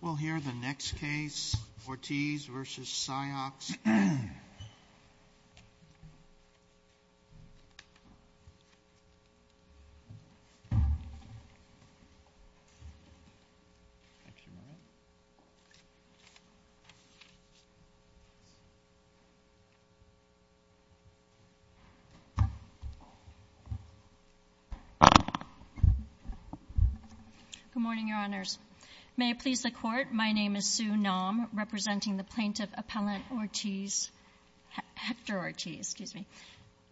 We'll hear the next case, Ortiz v. Cyox. Good morning, Your Honors. May it please the Court, my name is Sue Naum, representing the Plaintiff Appellant Ortiz, Hector Ortiz, excuse me.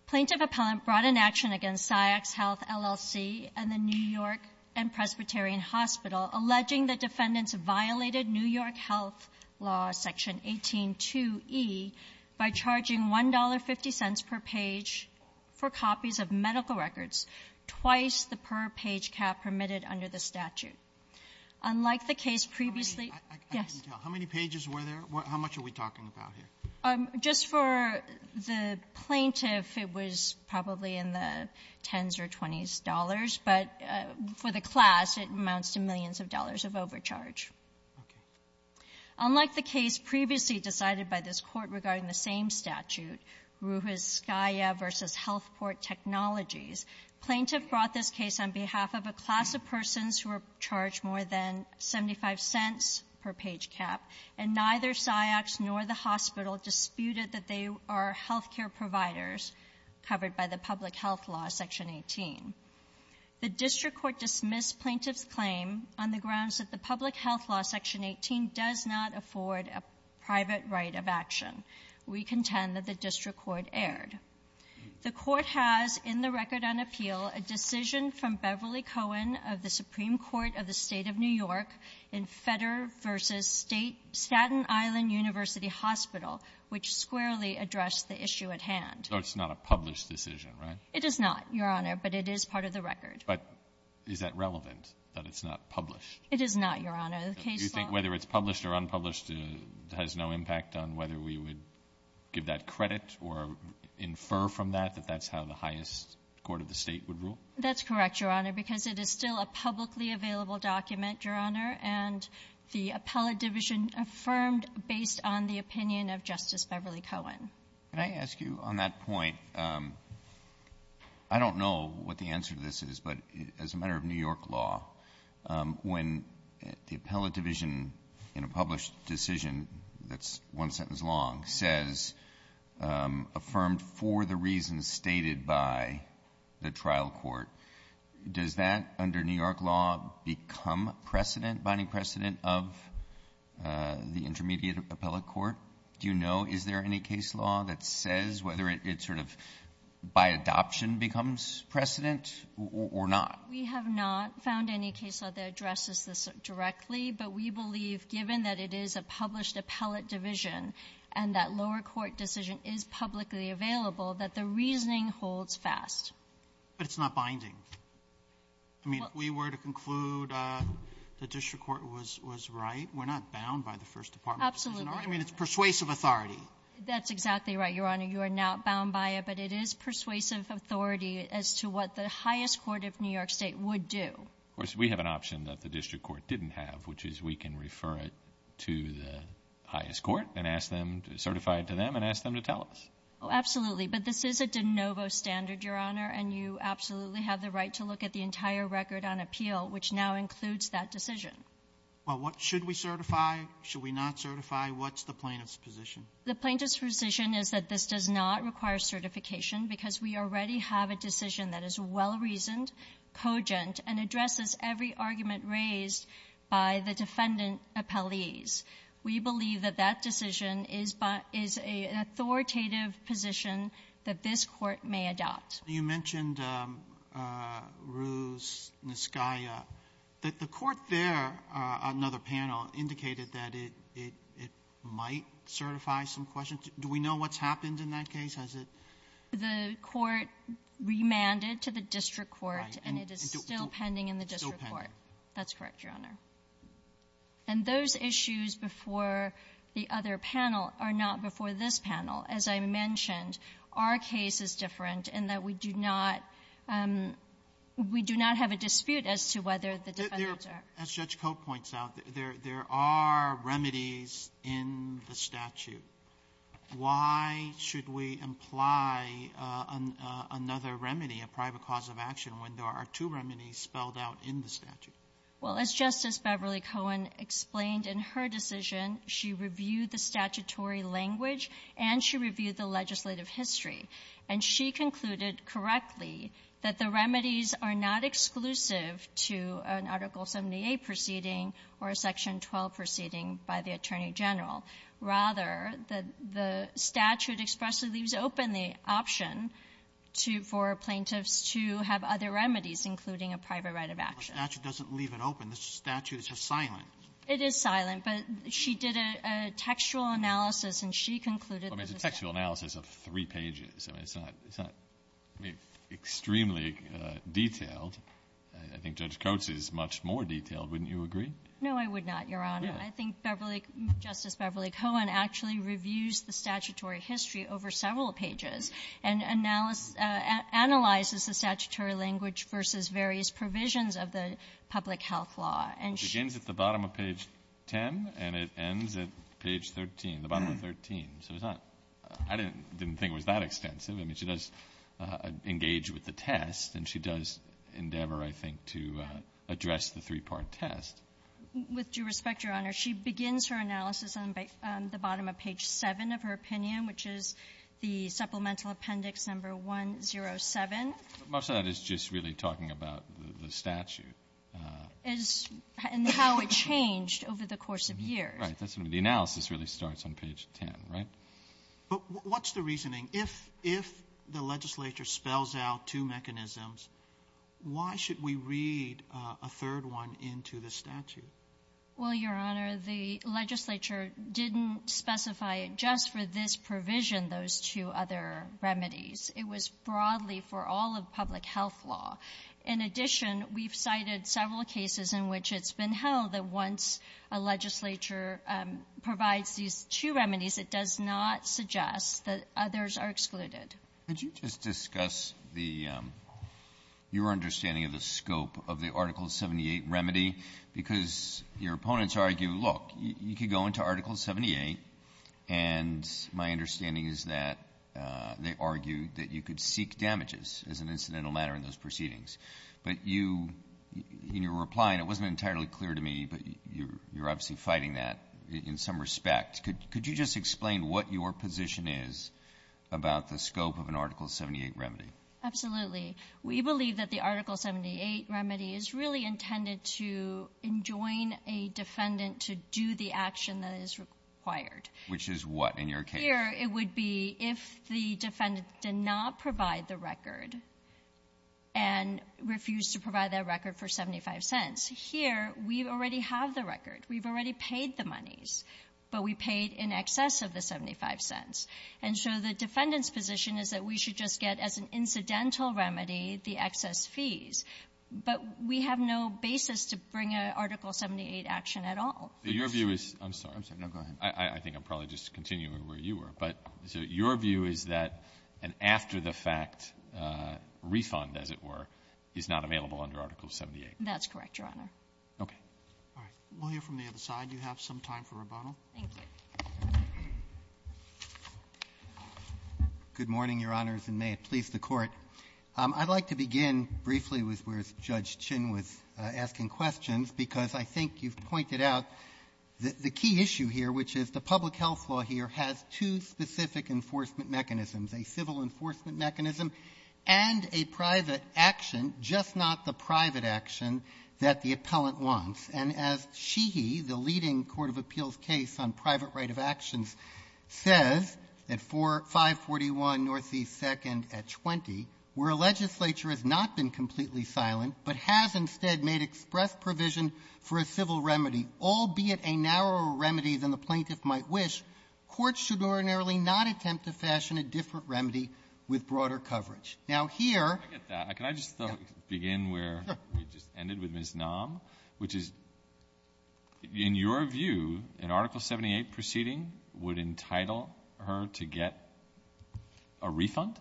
Plaintiff Appellant brought an action against Cyox Health, LLC, and the New York and Presbyterian Hospital, alleging that defendants violated New York health law section 182e by charging $1.50 per page for copies of medical records, twice the per-page cap permitted under the statute. Unlike the case previously ---- Sotomayor, how much are we talking about here? Just for the plaintiff, it was probably in the tens or twenties dollars, but for the class, it amounts to millions of dollars of overcharge. Okay. Unlike the case previously decided by this Court regarding the same statute, Ruiz-Scaia v. Health Port Technologies, plaintiff brought this case on behalf of a class of persons who were charged more than $0.75 per-page cap, and neither Cyox nor the hospital disputed that they are health care providers covered by the public health law section 18. The district court dismissed plaintiff's claim on the grounds that the public health law section 18 does not afford a private right of action. We contend that the district court erred. The court has in the record on appeal a decision from Beverly Cohen of the Supreme Court of the State of New York in Fetter v. State Staten Island University Hospital, which squarely addressed the issue at hand. So it's not a published decision, right? It is not, Your Honor, but it is part of the record. But is that relevant, that it's not published? It is not, Your Honor. The case law ---- Do you think whether it's published or unpublished has no impact on whether we would give that credit or infer from that that that's how the highest court of the State would rule? That's correct, Your Honor, because it is still a publicly available document, Your Honor, and the appellate division affirmed based on the opinion of Justice Beverly Cohen. Can I ask you on that point, I don't know what the answer to this is, but as a matter of New York law, when the appellate division in a published decision that's one sentence long says, affirmed for the reasons stated by the trial court, does that under New York law become precedent, binding precedent of the intermediate appellate court? Do you know, is there any case law that says whether it sort of by adoption becomes precedent or not? We have not found any case law that addresses this directly, but we believe given that it is a published appellate division and that lower court decision is publicly available, that the reasoning holds fast. But it's not binding. I mean, if we were to conclude the district court was right, we're not bound by the first department decision, are we? Absolutely. I mean, it's persuasive authority. That's exactly right, Your Honor. You are not bound by it, but it is persuasive authority as to what the highest court of New York State would do. Of course, we have an option that the district court didn't have, which is we can refer it to the highest court and ask them to certify it to them and ask them to tell us. Oh, absolutely. But this is a de novo standard, Your Honor, and you absolutely have the right to look at the entire record on appeal, which now includes that decision. Well, what should we certify, should we not certify? What's the plaintiff's position? The plaintiff's position is that this does not require certification because we already have a decision that is well-reasoned, cogent, and addresses every argument raised by the defendant appellees. We believe that that decision is an authoritative position that this Court may adopt. You mentioned Ruse, Niskaya. The court there, another panel, indicated that it might certify some questions. Do we know what's happened in that case? Has it been used? The court remanded to the district court, and it is still pending in the district court. Still pending. That's correct, Your Honor. And those issues before the other panel are not before this panel. As I mentioned, our case is different in that we do not – we do not have a dispute as to whether the defendants are… As Judge Cote points out, there are remedies in the statute. Why should we imply another remedy, a private cause of action, when there are two remedies spelled out in the statute? Well, as Justice Beverly Cohen explained in her decision, she reviewed the statutory language and she reviewed the legislative history. And she concluded correctly that the remedies are not exclusive to an Article 78 proceeding or a Section 12 proceeding by the attorney general. Rather, the statute expressly leaves open the option to – for plaintiffs to have other remedies, including a private right of action. The statute doesn't leave it open. The statute is just silent. It is silent. But she did a textual analysis, and she concluded that the statute… Well, it's a textual analysis of three pages. I mean, it's not – it's not, I mean, extremely detailed. I think Judge Cote's is much more detailed. Wouldn't you agree? No, I would not, Your Honor. I think Beverly – Justice Beverly Cohen actually reviews the statutory history over several pages and analysis – analyzes the statutory language versus various provisions of the public health law. And she… It begins at the bottom of page 10 and it ends at page 13, the bottom of 13. So it's not – I didn't think it was that extensive. I mean, she does engage with the test, and she does endeavor, I think, to address the three-part test. With due respect, Your Honor, she begins her analysis on the bottom of page 7 of her opinion, which is the supplemental appendix number 107. But most of that is just really talking about the statute. And how it changed over the course of years. Right. That's what I mean. The analysis really starts on page 10, right? But what's the reasoning? If – if the legislature spells out two mechanisms, why should we read a third one into the statute? Well, Your Honor, the legislature didn't specify it just for this provision, those two other remedies. It was broadly for all of public health law. In addition, we've cited several cases in which it's been held that once a legislature provides these two remedies, it does not suggest that others are excluded. Could you just discuss the – your understanding of the scope of the Article 78 remedy? Because your opponents argue, look, you could go into Article 78, and my understanding is that they argue that you could seek damages as an incidental matter in those proceedings. But you – in your reply, and it wasn't entirely clear to me, but you're obviously fighting that in some respect. Could you just explain what your position is about the scope of an Article 78 remedy? Absolutely. We believe that the Article 78 remedy is really intended to enjoin a defendant to do the action that is required. Which is what in your case? Here, it would be if the defendant did not provide the record and refused to provide that record for 75 cents. Here, we already have the record. We've already paid the monies, but we paid in excess of the 75 cents. And so the defendant's position is that we should just get, as an incidental remedy, the excess fees. But we have no basis to bring an Article 78 action at all. Your view is – I'm sorry. I'm sorry. No, go ahead. I think I'm probably just continuing where you were. But so your view is that an after-the-fact refund, as it were, is not available under Article 78? That's correct, Your Honor. Okay. All right. We'll hear from the other side. You have some time for rebuttal. Thank you. Good morning, Your Honors, and may it please the Court. I'd like to begin briefly with where Judge Chin was asking questions, because I think you've pointed out that the key issue here, which is the public health law here, has two specific enforcement mechanisms, a civil enforcement mechanism and a private action, just not the private action that the appellant wants. And as SHEHE, the leading court of appeals case on private right of actions, says at 541 Northeast 2nd at 20, where a legislature has not been completely silent, but has instead made express provision for a civil remedy, albeit a narrower remedy than the plaintiff might wish, courts should ordinarily not attempt to fashion a different remedy with broader coverage. Now, here — Can I just begin where we just ended with Ms. Naum, which is, in your view, an Article 78 proceeding would entitle her to get a refund?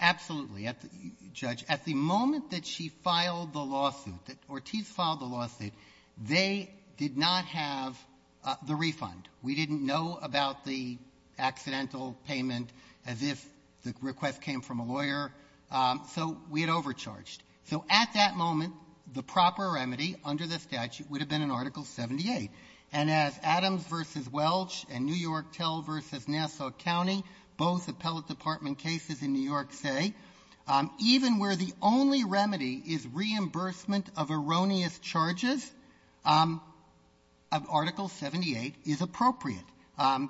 Absolutely, Judge. At the moment that she filed the lawsuit, that Ortiz filed the lawsuit, they did not have the refund. We didn't know about the accidental payment as if the request came from a lawyer. So we had overcharged. So at that moment, the proper remedy under the statute would have been an Article 78. And as Adams v. Welch and New York Tell v. Nassau County, both appellate department cases in New York, say, even where the only remedy is reimbursement of erroneous charges, Article 78 is appropriate.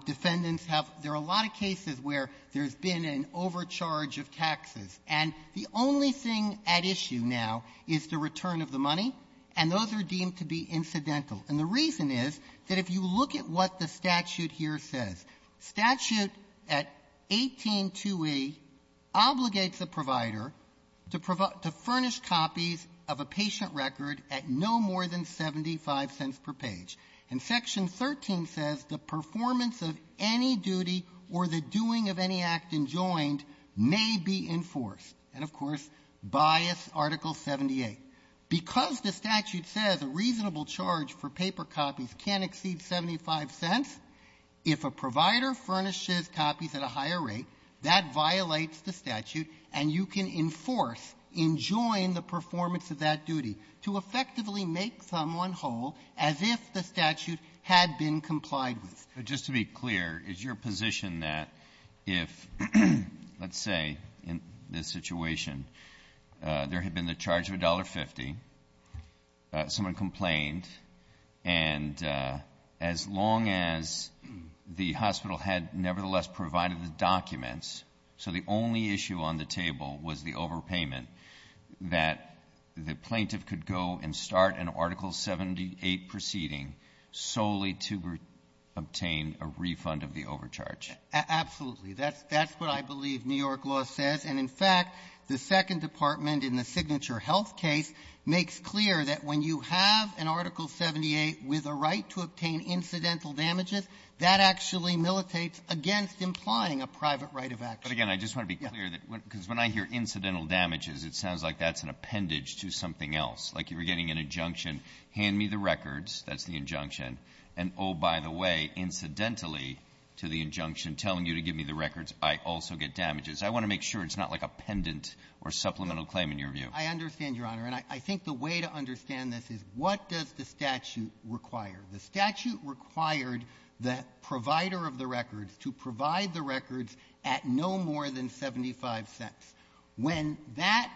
Defendants have — there are a lot of cases where there's been an overcharge of taxes, and the only thing at issue now is the return of the money, and those are deemed to be incidental. And the reason is that if you look at what the statute here says, statute at 182e obligates the provider to furnish copies of a patient record at no more than 75 cents per page. And Section 13 says the performance of any duty or the doing of any act enjoined may be enforced. And, of course, bias Article 78. Because the statute says a reasonable charge for paper copies can't exceed 75 cents, if a provider furnishes copies at a higher rate, that violates the statute, and you can enforce, enjoin the performance of that duty to effectively make someone whole as if the statute had been complied with. But just to be clear, is your position that if, let's say, in this situation, there had been the charge of $1.50, someone complained, and as long as the hospital had nevertheless provided the documents, so the only issue on the table was the overpayment, that the plaintiff could go and start an Article 78 proceeding solely to obtain a refund of the overcharge? Absolutely. That's what I believe New York law says. And, in fact, the Second Department in the Signature Health case makes clear that when you have an Article 78 with a right to obtain incidental damages, that actually militates against implying a private right of action. But, again, I just want to be clear that when — because when I hear incidental damages, it sounds like that's an appendage to something else. Like you were getting an injunction, hand me the records, that's the injunction. And, oh, by the way, incidentally to the injunction telling you to give me the records, I also get damages. I want to make sure it's not like a pendant or supplemental claim in your view. I understand, Your Honor. And I think the way to understand this is, what does the statute require? The statute required the provider of the records to provide the records at no more than 75 cents. When that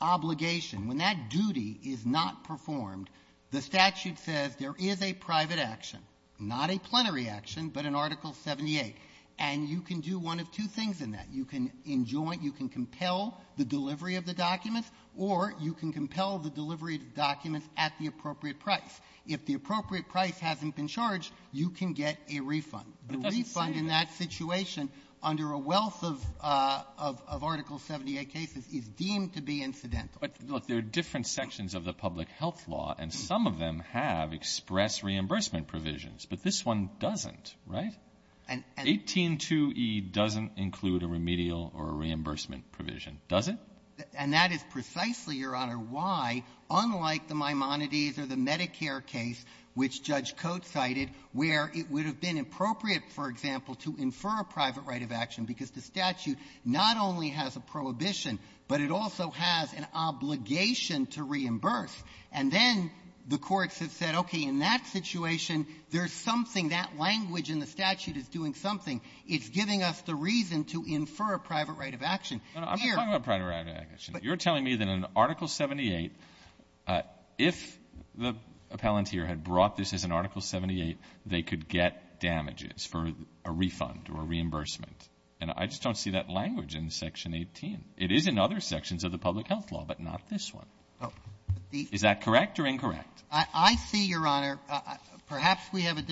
obligation, when that duty is not performed, the statute says there is a private action, not a plenary action, but an Article 78. And you can do one of two things in that. You can enjoin — you can compel the delivery of the documents, or you can compel the delivery of documents at the appropriate price. If the appropriate price hasn't been charged, you can get a refund. The refund in that situation under a wealth of — of Article 78 cases is deemed to be incidental. But, look, there are different sections of the public health law, and some of them have express reimbursement provisions, but this one doesn't, right? 182e doesn't include a remedial or a reimbursement provision, does it? And that is precisely, Your Honor, why, unlike the Maimonides or the Medicare case, which Judge Coates cited, where it would have been appropriate, for example, to infer a private right of action because the statute not only has a prohibition, but it also has an obligation to reimburse. And then the courts have said, okay, in that situation, there's something, that language in the statute is doing something. It's giving us the reason to infer a private right of action. Here — Breyer. I'm not talking about private right of action. You're telling me that in Article 78, if the appellant here had brought this as an Article 78, they could get damages for a refund or a reimbursement. And I just don't see that language in Section 18. It is in other sections of the public health law, but not this one. Oh. Is that correct or incorrect? I see, Your Honor, perhaps we have a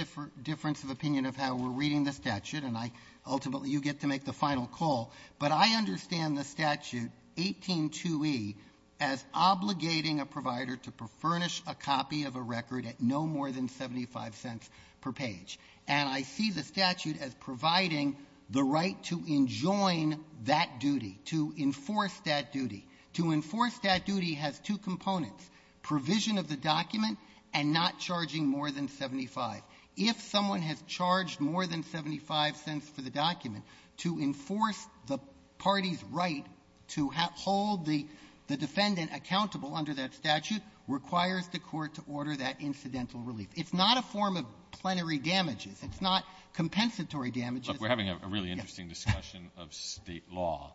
difference of opinion of how we're reading the statute, and I — ultimately, you get to make the final call. But I understand the statute, 182e, as obligating a provider to furnish a copy of a record at no more than 75 cents per page. And I see the statute as providing the right to enjoin that duty, to enforce that duty. To enforce that duty has two components, provision of the document and not charging more than 75. If someone has charged more than 75 cents for the document, to enforce the party's right to hold the defendant accountable under that statute requires the court to order that incidental relief. It's not a form of plenary damages. It's not compensatory damages. Look, we're having a really interesting discussion of State law.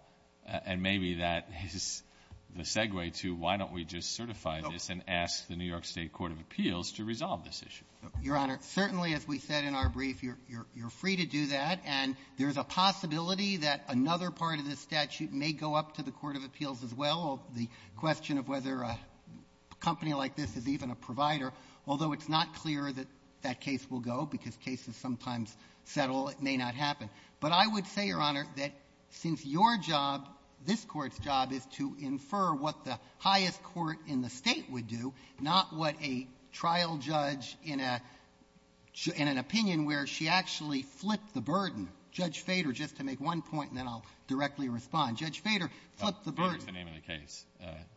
And maybe that is the segue to why don't we just certify this and ask the New York State Court of Appeals to resolve this issue. Your Honor, certainly, as we said in our brief, you're free to do that. And there's a possibility that another part of this statute may go up to the court of appeals as well. The question of whether a company like this is even a provider, although it's not clear that that case will go, because cases sometimes settle, it may not happen. But I would say, Your Honor, that since your job, this Court's job, is to infer what the highest court in the State would do, not what a trial judge in a — in an opinion where she actually flipped the burden. Judge Fader, just to make one point, and then I'll directly respond. Judge Fader flipped the burden. Fader is the name of the case.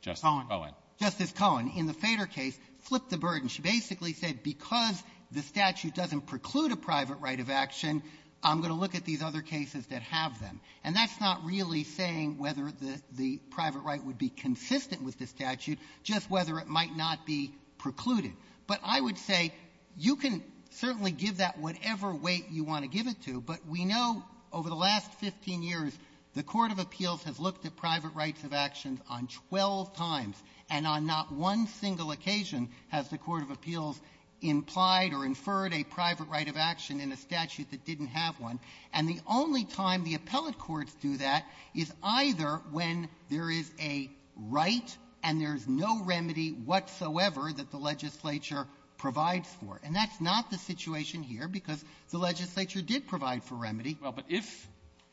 Justice Cohen. Justice Cohen. In the Fader case, flipped the burden. She basically said because the statute doesn't preclude a private right of action, I'm going to look at these other cases that have them. And that's not really saying whether the — the private right would be consistent with this statute, just whether it might not be precluded. But I would say you can certainly give that whatever weight you want to give it to. But we know over the last 15 years, the court of appeals has looked at private rights of action on 12 times, and on not one single occasion has the court of appeals implied or inferred a private right of action in a statute that didn't have one. And the only time the appellate courts do that is either when there is a right and there's no remedy whatsoever that the legislature provides for. And that's not the situation here, because the legislature did provide for remedy. Well, but if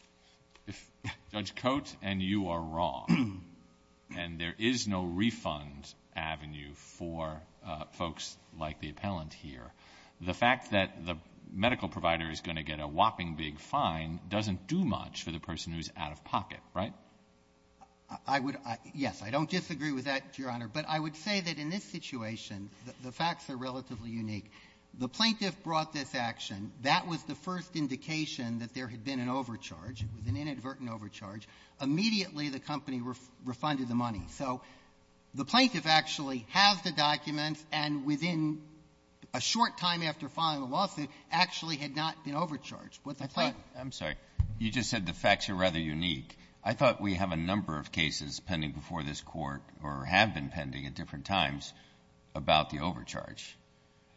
— if Judge Coates and you are wrong, and there is no refund avenue for folks like the appellant here, the fact that the medical provider is going to get a whopping big fine doesn't do much for the person who's out of pocket, right? I would — yes, I don't disagree with that, Your Honor. But I would say that in this situation, the facts are relatively unique. The plaintiff brought this action. That was the first indication that there had been an overcharge. It was an inadvertent overcharge. Immediately, the company refunded the money. So the plaintiff actually has the documents, and within a short time after filing the lawsuit, actually had not been overcharged. But the plaintiff — I'm sorry. You just said the facts are rather unique. I thought we have a number of cases pending before this Court, or have been pending at different times, about the overcharge.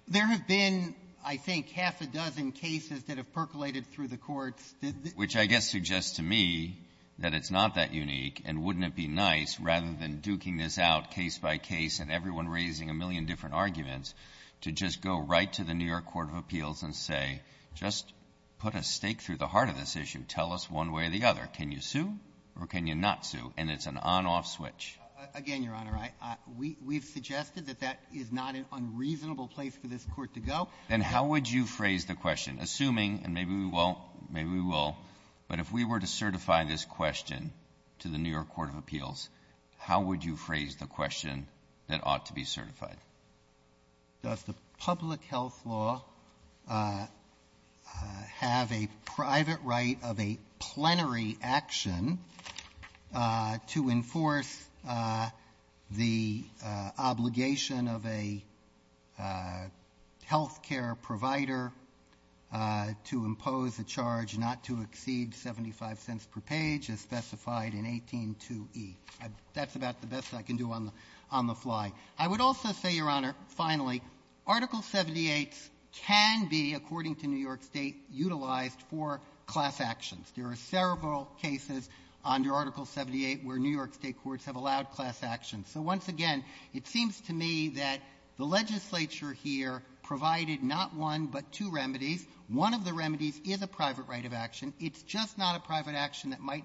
There have been, I think, half a dozen cases that have percolated through the courts that — Which I guess suggests to me that it's not that unique, and wouldn't it be nice rather than duking this out case by case and everyone raising a million different arguments to just go right to the New York Court of Appeals and say, just put a stake through the heart of this issue. Tell us one way or the other. Can you sue or can you not sue? And it's an on-off switch. Again, Your Honor, I — we've suggested that that is not an unreasonable place for this Court to go. Then how would you phrase the question, assuming — and maybe we won't, maybe we will — but if we were to certify this question to the New York Court of Appeals, how would you phrase the question that ought to be certified? Does the public health law have a private right of a plenary action to enforce the obligation of a health care provider to impose a charge not to accept a patient's medical records when a patient's medical records are censured or recorded to a national health record or to a national health record and not a public health record? Officially by a federal court of appeals. I do not believe that the public health law rights are limited to Congress. It's just not a private action that might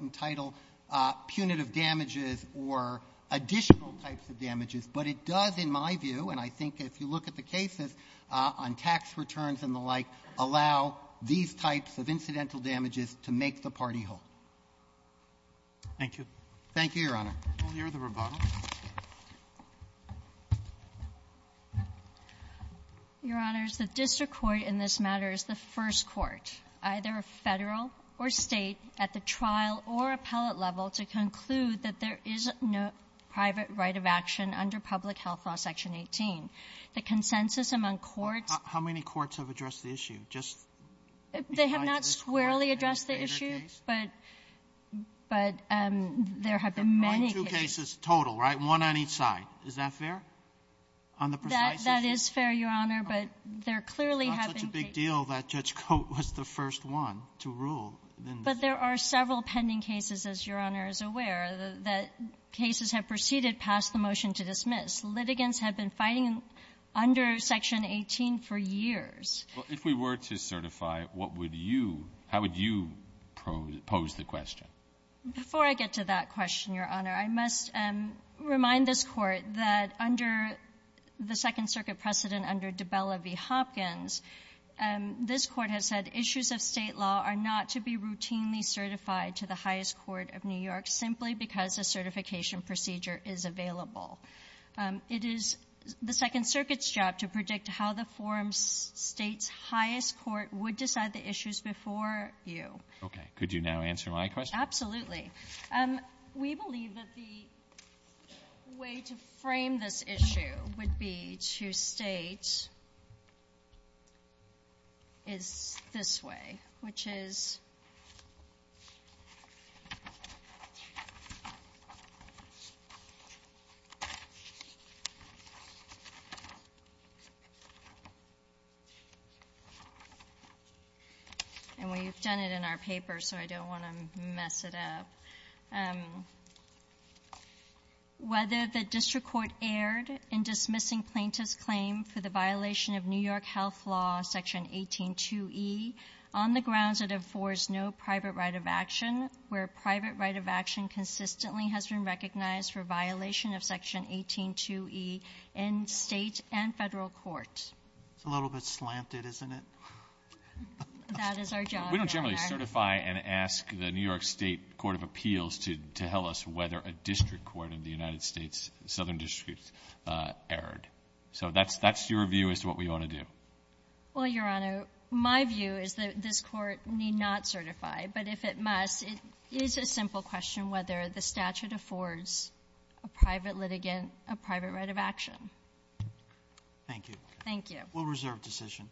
entitle punitive damages or additional types of damages. But it does, in my view, and I think if you look at the cases on tax returns and the like, allow these types of incidental damages to make the party whole. Thank you. Thank you, Your Honor. We'll hear the rebuttal. Your Honors, the district court in this matter is the first court, either a federal court or State, at the trial or appellate level to conclude that there is no private right of action under Public Health Law Section 18. The consensus among courts — How many courts have addressed the issue? Just — They have not squarely addressed the issue, but there have been many cases. On two cases total, right? One on each side. Is that fair on the precise issue? That is fair, Your Honor, but there clearly have been cases — It's not such a big deal that Judge Cote was the first one to rule in this case. But there are several pending cases, as Your Honor is aware, that cases have proceeded past the motion to dismiss. Litigants have been fighting under Section 18 for years. Well, if we were to certify, what would you — how would you pose the question? Before I get to that question, Your Honor, I must remind this Court that under the This Court has said issues of State law are not to be routinely certified to the highest court of New York simply because a certification procedure is available. It is the Second Circuit's job to predict how the forum's State's highest court would decide the issues before you. Okay. Could you now answer my question? Absolutely. We believe that the way to frame this issue would be to state is this way, which is — And we've done it in our paper, so I don't want to mess it up. Whether the District Court erred in dismissing plaintiff's claim for the violation of New York health law, Section 182e, on the grounds that it affords no private right of action, where private right of action consistently has been recognized for violation of Section 182e in State and Federal court. It's a little bit slanted, isn't it? That is our job, Your Honor. We don't generally certify and ask the New York State Court of Appeals to tell us whether a District Court in the United States Southern District erred. So that's your view as to what we ought to do. Well, Your Honor, my view is that this Court need not certify. But if it must, it is a simple question whether the statute affords a private litigant a private right of action. Thank you. Thank you. We'll reserve decision.